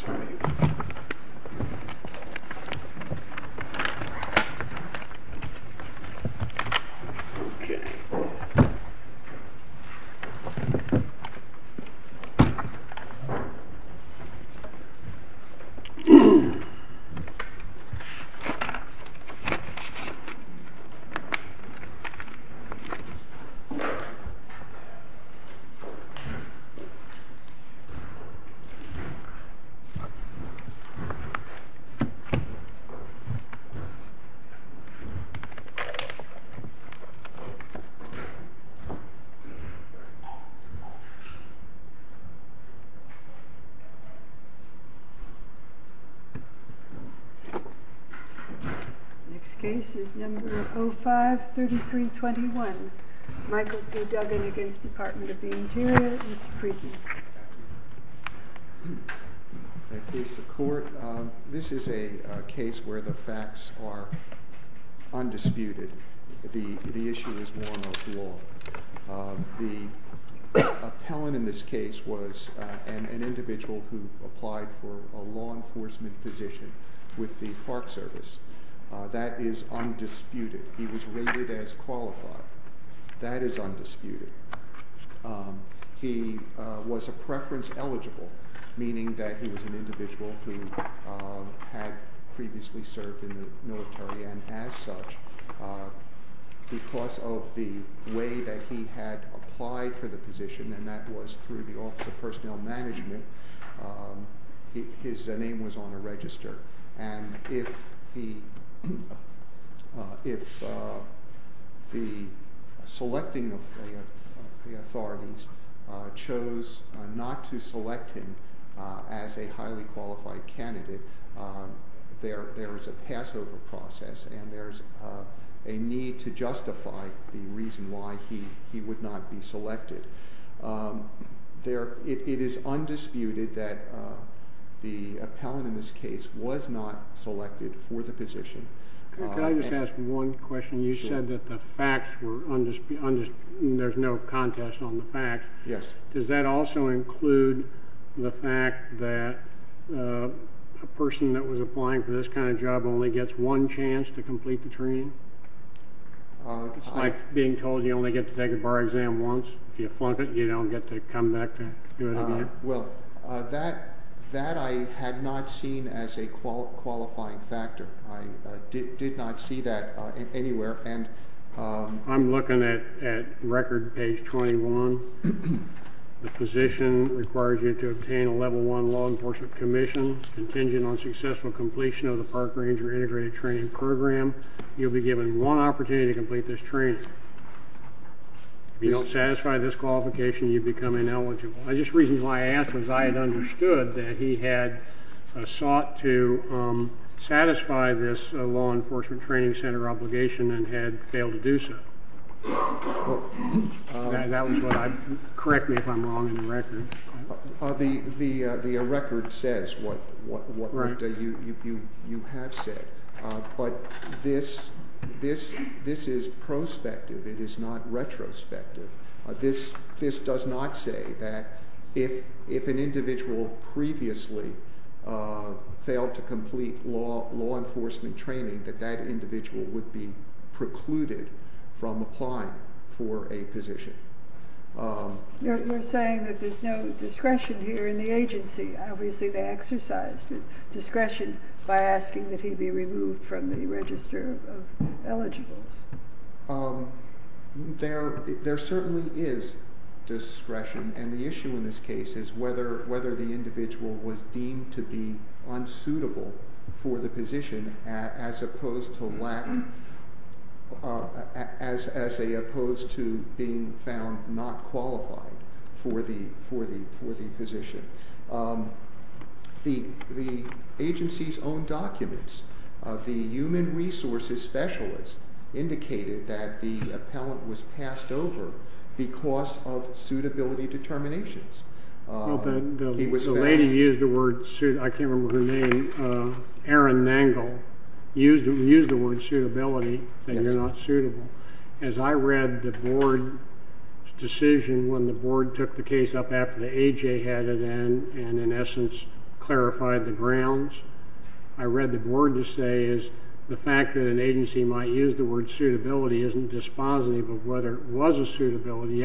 Turning Ok UGH Next case is number 053321 Michael B. Duggan against Department of the Interior Mr. Friedman This is a case where the facts are undisputed. The issue is law. The appellant in this case was an individual who applied for a law enforcement position with the Park Service. That is undisputed. He was rated as qualified. That is undisputed. He was a preference eligible, meaning that he was an individual who had previously served in the military and as such, because of the way that he had applied for the position, and that was through the Office of Personnel Management, his name was on a register. And if the selecting of the authorities chose not to select him as a highly qualified candidate, there is a pass over process and there is a need to justify the reason why he would not be selected. It is undisputed that the appellant in this case was not selected for the position. Could I just ask one question? You said that the facts were undisputed. There is no contest on the facts. Does that also include the fact that a person that was applying for this kind of job only gets one chance to complete the training? It's like being told you only get to take a bar exam once. If you flunk it, you don't get to come back to do it again. Well, that I had not seen as a qualifying factor. I did not see that anywhere. I'm looking at record page 21. The position requires you to obtain a level one law enforcement commission contingent on successful completion of the park ranger integrated training program. You will be given one opportunity to complete this training. If you don't satisfy this qualification, you become ineligible. I just reason why I asked was I had understood that he had sought to satisfy this law enforcement training center obligation and had failed to do so. Correct me if I'm wrong in the record. The record says what you have said, but this is prospective. It is not retrospective. This does not say that if an individual previously failed to complete law enforcement training, that that individual would be precluded from applying for a position. You're saying that there's no discretion here in the agency. Obviously, they exercised discretion by asking that he be removed from the register of eligibles. There certainly is discretion, and the issue in this case is whether the individual was deemed to be unsuitable for the position as opposed to being found not qualified for the position. The agency's own documents of the human resources specialist indicated that the appellant was passed over because of suitability determinations. The lady used the word, I can't remember her name, Erin Nangle, used the word suitability, that you're not suitable. As I read the board's decision when the board took the case up after the AJ had it in and, in essence, clarified the grounds, I read the board to say is the fact that an agency might use the word suitability isn't dispositive of whether it was a suitability.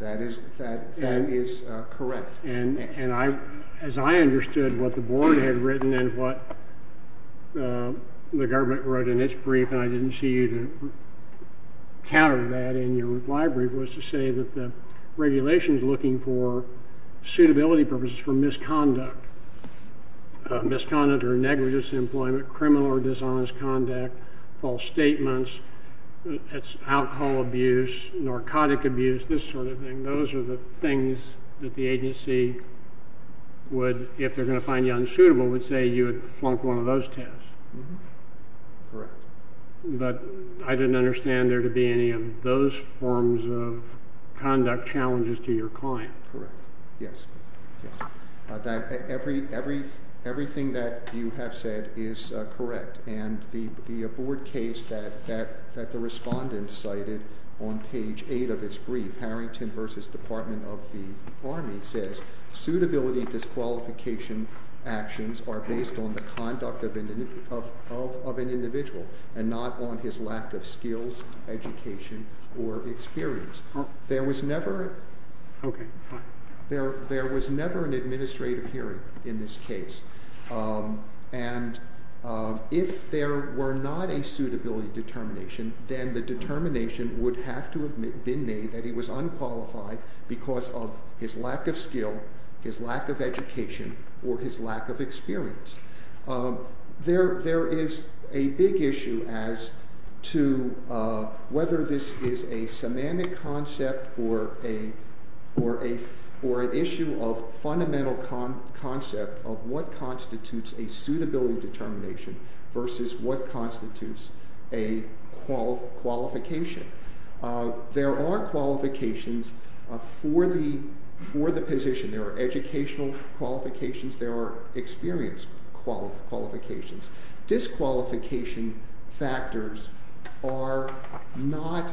That is correct. And I, as I understood what the board had written and what the government wrote in its brief, and I didn't see you to read the board's decision, I read the board's decision. And I think the reason you countered that in your library was to say that the regulations looking for suitability purposes for misconduct, misconduct or negligence in employment, criminal or dishonest conduct, false statements, alcohol abuse, narcotic abuse, this sort of thing, those are the things that the agency would, if they're going to find you unsuitable, would say you had flunked one of those tests. Correct. But I didn't understand there to be any of those forms of conduct challenges to your client. Correct. Yes. Yes. Everything that you have said is correct. There was never an administrative hearing in this case. And if there were not a suitability determination, then the determination would have to have been made that he was unqualified because of his lack of skill, his lack of education, or his lack of experience. There is a big issue as to whether this is a semantic concept or an issue of fundamental concept of what constitutes a suitability determination versus what constitutes a qualification. There are qualifications for the position. There are educational qualifications. There are experience qualifications. Disqualification factors are not,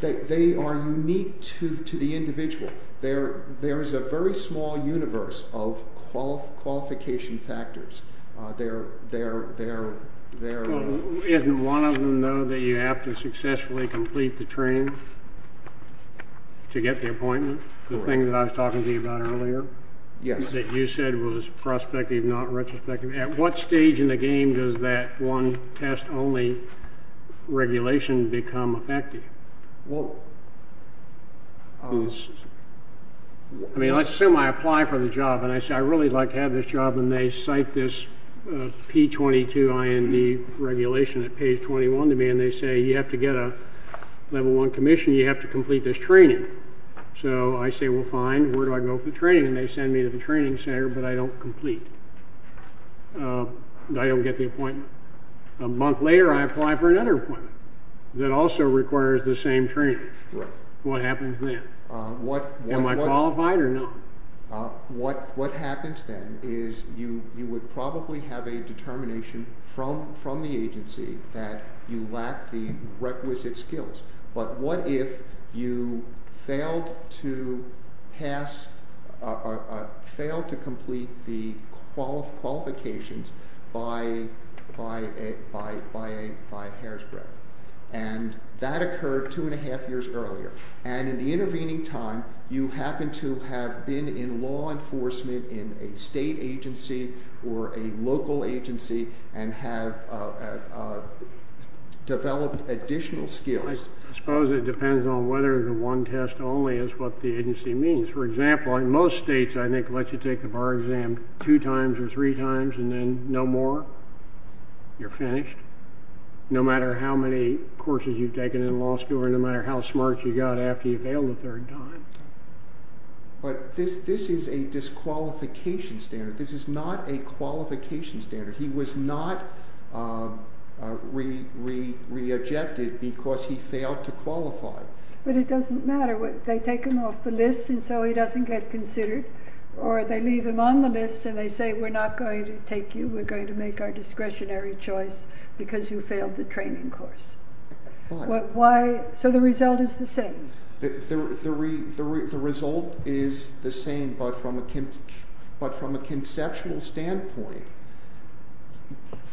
they are unique to the individual. There is a very small universe of qualification factors. Isn't one of them, though, that you have to successfully complete the training to get the appointment? The thing that I was talking to you about earlier? Yes. That you said was prospective, not retrospective. At what stage in the game does that one test-only regulation become effective? I mean, let's assume I apply for the job, and I say, I'd really like to have this job. And they cite this P-22 IND regulation at page 21 to me, and they say, you have to get a level one commission, you have to complete this training. So I say, well, fine. Where do I go for training? And they send me to the training center, but I don't complete. I don't get the appointment. A month later, I apply for another appointment that also requires the same training. What happens then? Am I qualified or not? What happens then is you would probably have a determination from the agency that you lack the requisite skills. But what if you failed to complete the qualifications by Hairspray? And that occurred two and a half years earlier. And in the intervening time, you happen to have been in law enforcement in a state agency or a local agency and have developed additional skills. I suppose it depends on whether the one test only is what the agency means. For example, in most states, I think, let you take the bar exam two times or three times and then no more. You're finished. No matter how many courses you've taken in law school or no matter how smart you got after you failed a third time. But this is a disqualification standard. This is not a qualification standard. He was not re-ejected because he failed to qualify. But it doesn't matter. They take him off the list, and so he doesn't get considered. Or they leave him on the list, and they say, we're not going to take you. We're going to make our discretionary choice because you failed the training course. Why? So the result is the same. The result is the same, but from a conceptual standpoint,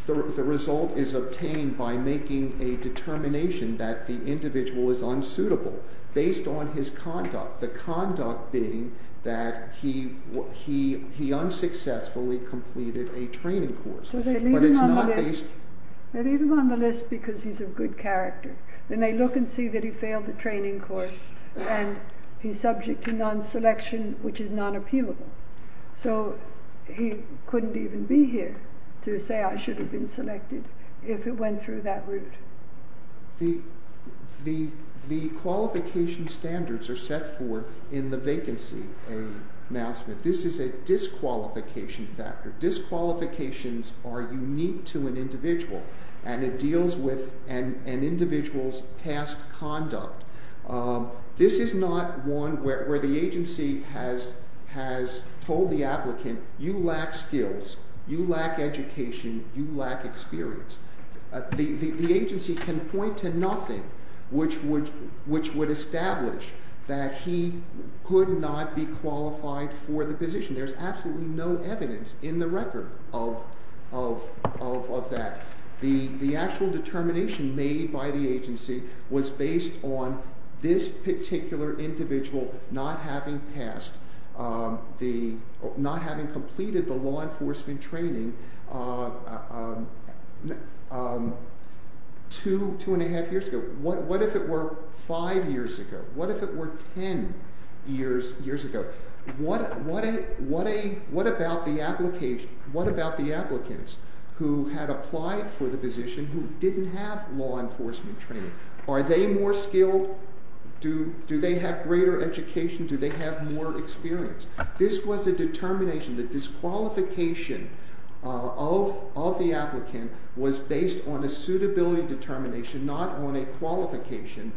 the result is obtained by making a determination that the individual is unsuitable based on his conduct. The conduct being that he unsuccessfully completed a training course. So they leave him on the list because he's of good character. Then they look and see that he failed the training course, and he's subject to non-selection, which is non-appealable. So he couldn't even be here to say, I should have been selected if it went through that route. The qualification standards are set forth in the vacancy announcement. This is a disqualification factor. Disqualifications are unique to an individual, and it deals with an individual's past conduct. This is not one where the agency has told the applicant, you lack skills. You lack education. You lack experience. The agency can point to nothing which would establish that he could not be qualified for the position. There's absolutely no evidence in the record of that. The actual determination made by the agency was based on this particular individual not having completed the law enforcement training two and a half years ago. What if it were five years ago? What if it were ten years ago? What about the applicants who had applied for the position who didn't have law enforcement training? Are they more skilled? Do they have greater education? Do they have more experience? This was a determination. The disqualification of the applicant was based on a suitability determination, not on a qualification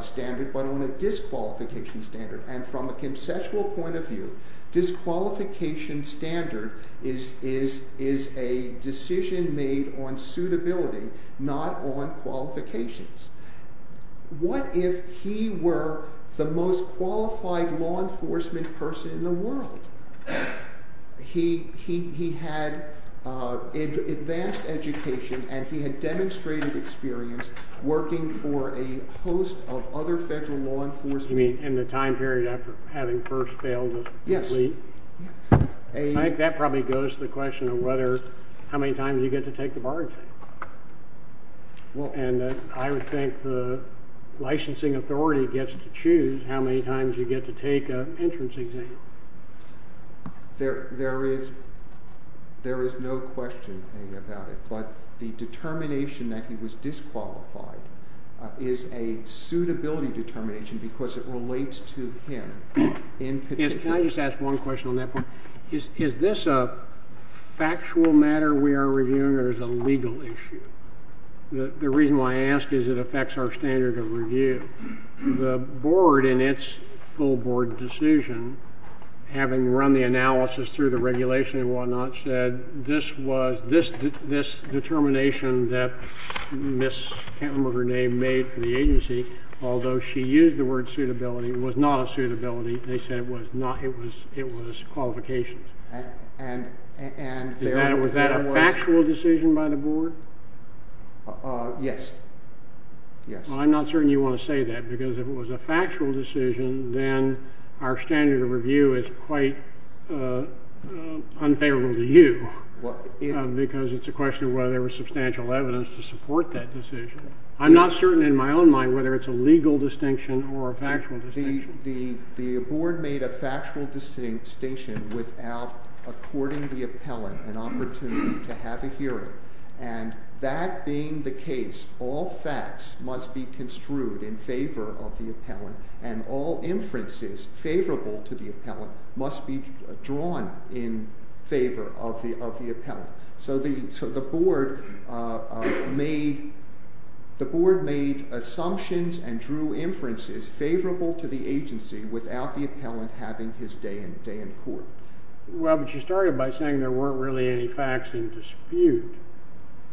standard, but on a disqualification standard. And from a conceptual point of view, disqualification standard is a decision made on suitability, not on qualifications. What if he were the most qualified law enforcement person in the world? He had advanced education, and he had demonstrated experience working for a host of other federal law enforcement. You mean in the time period after having first failed as an elite? Yes. I think that probably goes to the question of how many times you get to take the bar exam. And I would think the licensing authority gets to choose how many times you get to take an entrance exam. There is no question about it, but the determination that he was disqualified is a suitability determination because it relates to him in particular. Can I just ask one question on that point? Is this a factual matter we are reviewing or is it a legal issue? The reason why I ask is it affects our standard of review. The board, in its full board decision, having run the analysis through the regulation and what not, said this determination that Ms. Cantler made for the agency, although she used the word suitability, was not a suitability. They said it was qualifications. Was that a factual decision by the board? Yes. I'm not certain you want to say that because if it was a factual decision, then our standard of review is quite unfavorable to you. Because it's a question of whether there was substantial evidence to support that decision. I'm not certain in my own mind whether it's a legal distinction or a factual distinction. The board made a factual distinction without according the appellant an opportunity to have a hearing. And that being the case, all facts must be construed in favor of the appellant and all inferences favorable to the appellant must be drawn in favor of the appellant. So the board made assumptions and drew inferences favorable to the agency without the appellant having his day in court. Well, but you started by saying there weren't really any facts in dispute.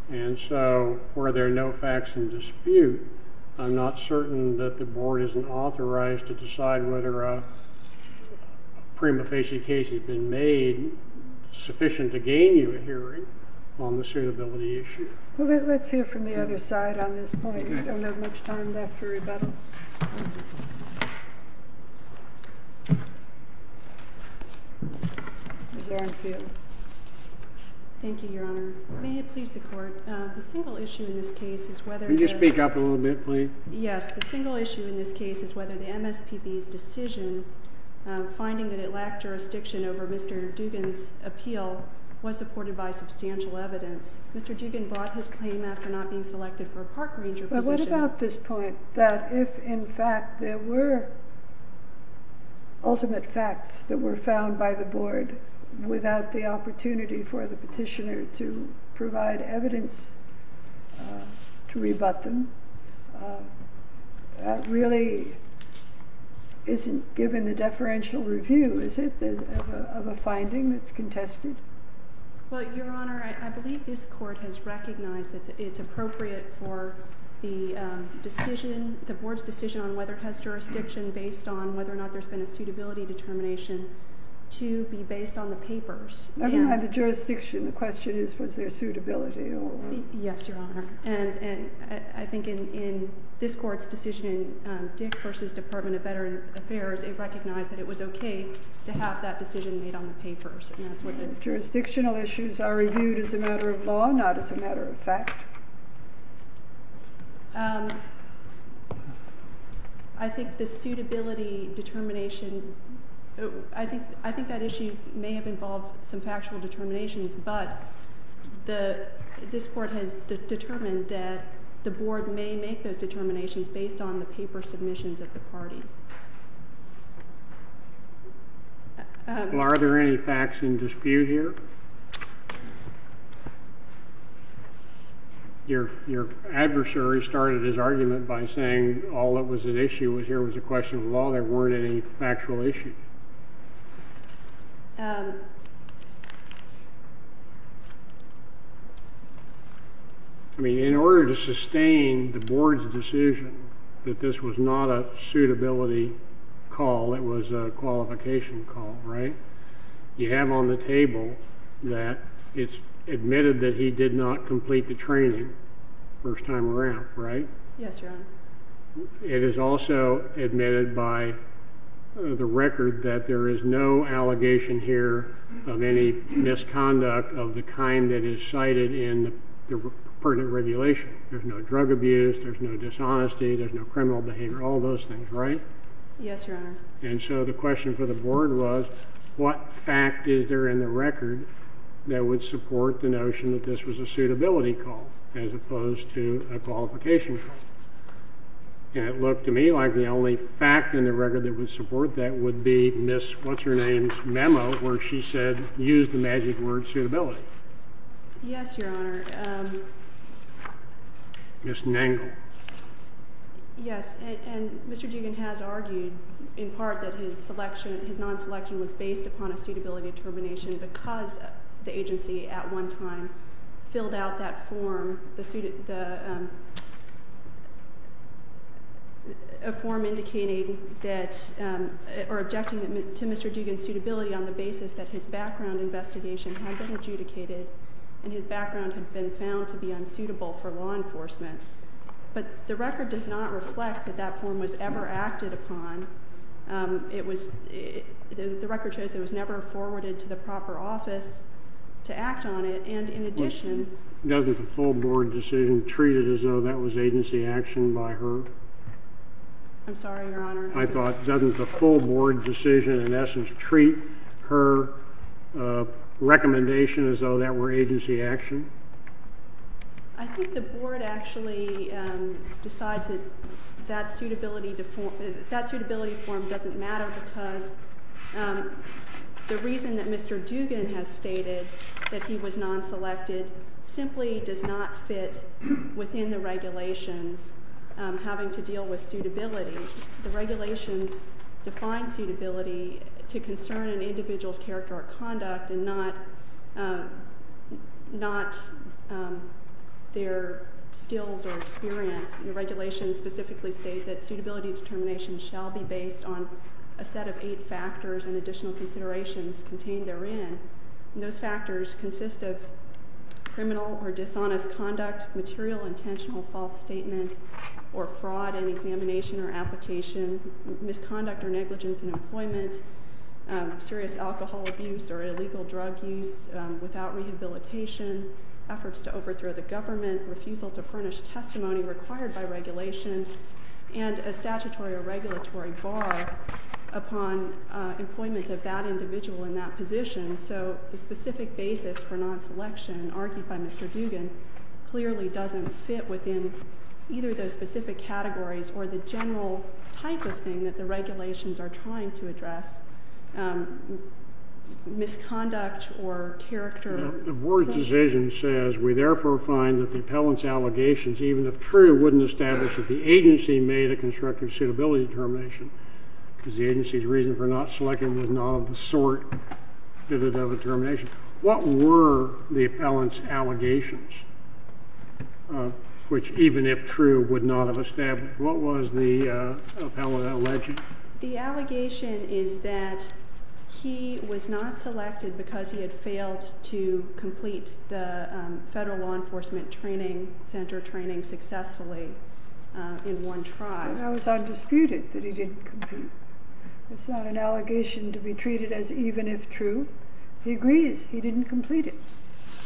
And so were there no facts in dispute, I'm not certain that the board isn't authorized to decide whether a prima facie case has been made sufficient to gain you a hearing on the suitability issue. Well, let's hear from the other side on this point. We don't have much time left for rebuttal. Ms. Arnfield. Thank you, Your Honor. May it please the court. The single issue in this case is whether the- Can you speak up a little bit, please? Yes. The single issue in this case is whether the MSPB's decision finding that it lacked jurisdiction over Mr. Dugan's appeal was supported by substantial evidence. Mr. Dugan brought his claim after not being selected for a park ranger position. But what about this point that if, in fact, there were ultimate facts that were found by the board without the opportunity for the petitioner to provide evidence to rebut them, that really isn't given the deferential review, is it, of a finding that's contested? Well, Your Honor, I believe this court has recognized that it's appropriate for the decision, the board's decision on whether it has jurisdiction based on whether or not there's been a suitability determination to be based on the papers. I don't have the jurisdiction. The question is was there suitability or- Yes, Your Honor. And I think in this court's decision, Dick versus Department of Veteran Affairs, it recognized that it was okay to have that decision made on the papers. And that's what the- Jurisdictional issues are reviewed as a matter of law, not as a matter of fact. I think the suitability determination, I think that issue may have involved some factual determinations, but this court has determined that the board may make those determinations based on the paper submissions of the parties. Are there any facts in dispute here? Your adversary started his argument by saying all that was at issue here was a question of law. There weren't any factual issues. I mean, in order to sustain the board's decision that this was not a suitability call, it was a qualification call, right? You have on the table that it's admitted that he did not complete the training first time around, right? Yes, Your Honor. It is also admitted by the record that there is no allegation here of any misconduct of the kind that is cited in the pertinent regulation. There's no drug abuse. There's no dishonesty. There's no criminal behavior. All those things, right? Yes, Your Honor. And so the question for the board was, what fact is there in the record that would support the notion that this was a suitability call as opposed to a qualification call? And it looked to me like the only fact in the record that would support that would be Ms. What's-Her-Name's memo where she said, use the magic word, suitability. Yes, Your Honor. Ms. Nangle. Yes, and Mr. Dugan has argued in part that his non-selection was based upon a suitability determination because the agency at one time filled out that form, a form indicating that, or objecting to Mr. Dugan's suitability on the basis that his background investigation had been adjudicated and his background had been found to be unsuitable for law enforcement. But the record does not reflect that that form was ever acted upon. It was, the record shows it was never forwarded to the proper office to act on it. And in addition, Well, doesn't the full board decision treat it as though that was agency action by her? I'm sorry, Your Honor. I thought, doesn't the full board decision in essence treat her recommendation as though that were agency action? I think the board actually decides that that suitability form doesn't matter because the reason that Mr. Dugan has stated that he was non-selected simply does not fit within the regulations having to deal with suitability. The regulations define suitability to concern an individual's character or conduct and not their skills or experience. The regulations specifically state that suitability determination shall be based on a set of eight factors and additional considerations contained therein. Those factors consist of criminal or dishonest conduct, material intentional false statement or fraud in examination or application, misconduct or negligence in employment, serious alcohol abuse or illegal drug use without rehabilitation, efforts to overthrow the government, refusal to furnish testimony required by regulation, and a statutory or regulatory bar upon employment of that individual in that position. So the specific basis for non-selection argued by Mr. Dugan clearly doesn't fit within either those specific categories or the general type of thing that the regulations are trying to address, misconduct or character. The board's decision says, we therefore find that the appellant's allegations, even if true, wouldn't establish that the agency made a constructive suitability determination because the agency's reason for not selecting was not of the sort fitted of a determination. What were the appellant's allegations, which even if true would not have established? What was the appellant alleging? The allegation is that he was not selected because he had failed to complete the Federal Law Enforcement Training Center training successfully in one try. That was undisputed, that he didn't complete. It's not an allegation to be treated as even if true. He agrees he didn't complete it.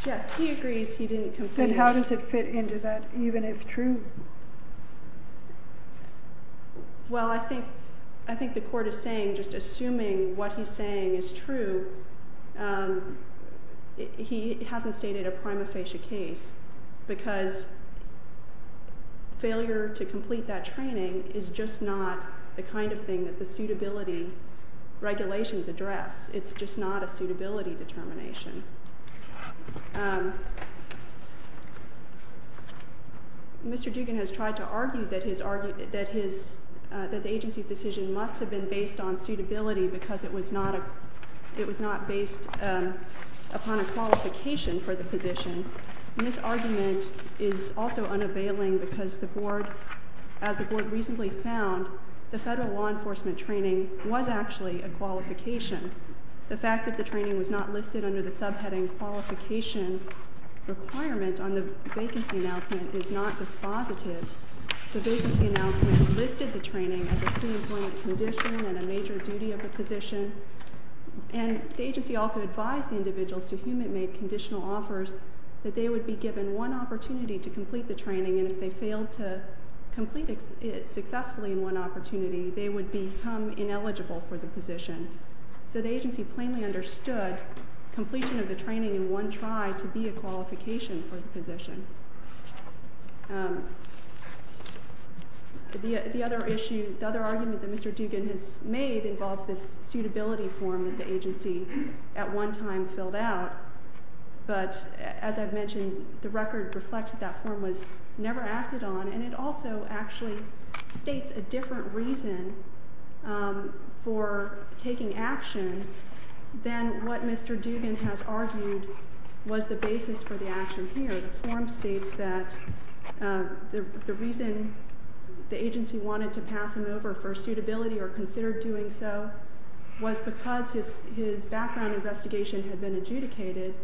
Yes, he agrees he didn't complete it. Then how does it fit into that even if true? Well, I think the court is saying, just assuming what he's saying is true, he hasn't stated a prima facie case because failure to complete that training is just not the kind of thing that the suitability regulations address. It's just not a suitability determination. Mr. Dugan has tried to argue that the agency's decision must have been based on suitability because it was not based upon a qualification for the position. This argument is also unavailing because the board, as the board recently found, the Federal Law Enforcement Training was actually a qualification. The fact that the training was not listed under the subheading qualification requirement on the vacancy announcement is not dispositive. The vacancy announcement listed the training as a preemployment condition and a major duty of the position. And the agency also advised the individuals to whom it made conditional offers that they would be given one opportunity to complete the training. And if they failed to complete it successfully in one opportunity, they would become ineligible for the position. So the agency plainly understood completion of the training in one try to be a qualification for the position. The other issue, the other argument that Mr. Dugan has made involves this suitability form that the agency at one time filled out. But as I've mentioned, the record reflects that that form was never acted on. And it also actually states a different reason for taking action than what Mr. Dugan has argued was the basis for the action here. The form states that the reason the agency wanted to pass him over for suitability or considered doing so was because his background investigation had been adjudicated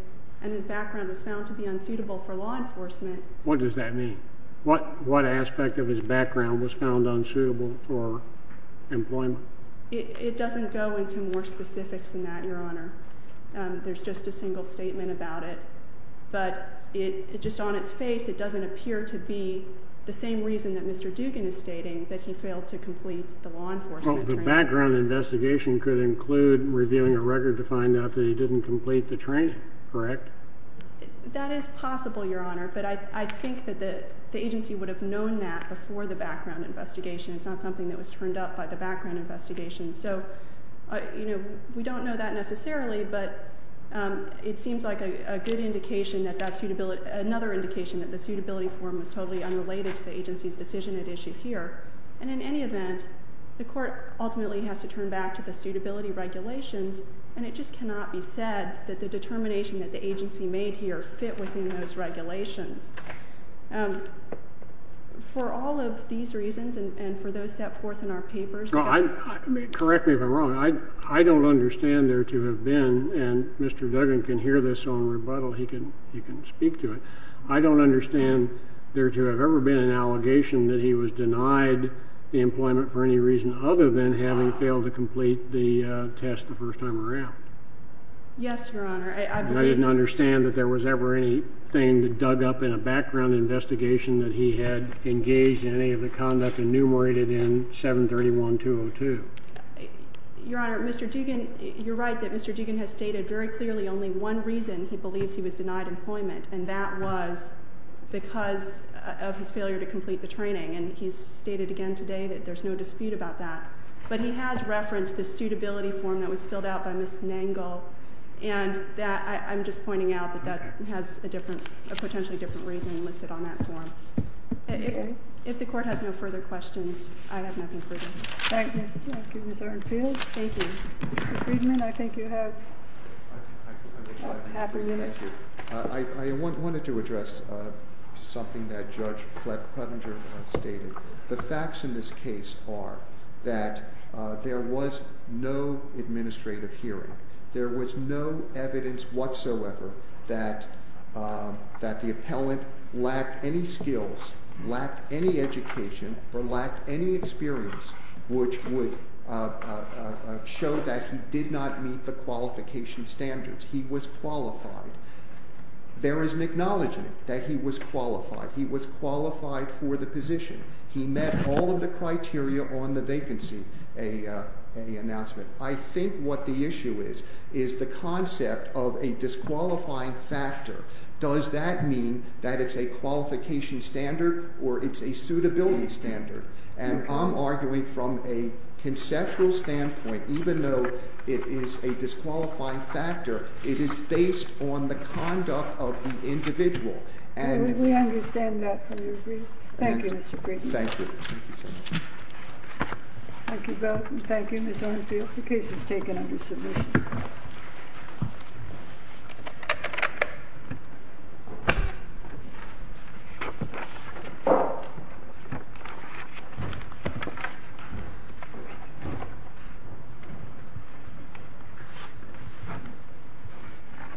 and his background was found to be unsuitable for law enforcement. What does that mean? What aspect of his background was found unsuitable for employment? It doesn't go into more specifics than that, Your Honor. There's just a single statement about it. But just on its face, it doesn't appear to be the same reason that Mr. Dugan is stating, that he failed to complete the law enforcement training. Well, the background investigation could include reviewing a record to find out that he didn't complete the training, correct? That is possible, Your Honor. But I think that the agency would have known that before the background investigation. It's not something that was turned up by the background investigation. So, you know, we don't know that necessarily, but it seems like a good indication that that's another indication that the suitability form is totally unrelated to the agency's decision at issue here. And in any event, the court ultimately has to turn back to the suitability regulations, and it just cannot be said that the determination that the agency made here fit within those regulations. For all of these reasons and for those set forth in our papers. Correct me if I'm wrong. I don't understand there to have been, and Mr. Dugan can hear this on rebuttal. He can speak to it. I don't understand there to have ever been an allegation that he was denied the employment for any reason other than having failed to complete the test the first time around. Yes, Your Honor. I didn't understand that there was ever anything that dug up in a background investigation that he had engaged in any of the conduct enumerated in 731-202. Your Honor, Mr. Dugan, you're right that Mr. Dugan has stated very clearly only one reason he believes he was denied employment, and that was because of his failure to complete the training. And he's stated again today that there's no dispute about that. But he has referenced the suitability form that was filled out by Ms. Nangle, and I'm just pointing out that that has a potentially different reason listed on that form. If the Court has no further questions, I have nothing further. Thank you, Ms. Arnfield. Thank you. Mr. Friedman, I think you have half a minute. Thank you. I wanted to address something that Judge Pletka stated. The facts in this case are that there was no administrative hearing. There was no evidence whatsoever that the appellant lacked any skills, lacked any education, or lacked any experience which would show that he did not meet the qualification standards. He was qualified. There is an acknowledgment that he was qualified. He was qualified for the position. He met all of the criteria on the vacancy announcement. I think what the issue is is the concept of a disqualifying factor. Does that mean that it's a qualification standard or it's a suitability standard? And I'm arguing from a conceptual standpoint, even though it is a disqualifying factor, it is based on the conduct of the individual. And we understand that from your briefs. Thank you, Mr. Friedman. Thank you. Thank you so much. Thank you both, and thank you, Ms. Arnfield. The case is taken under submission. Thank you.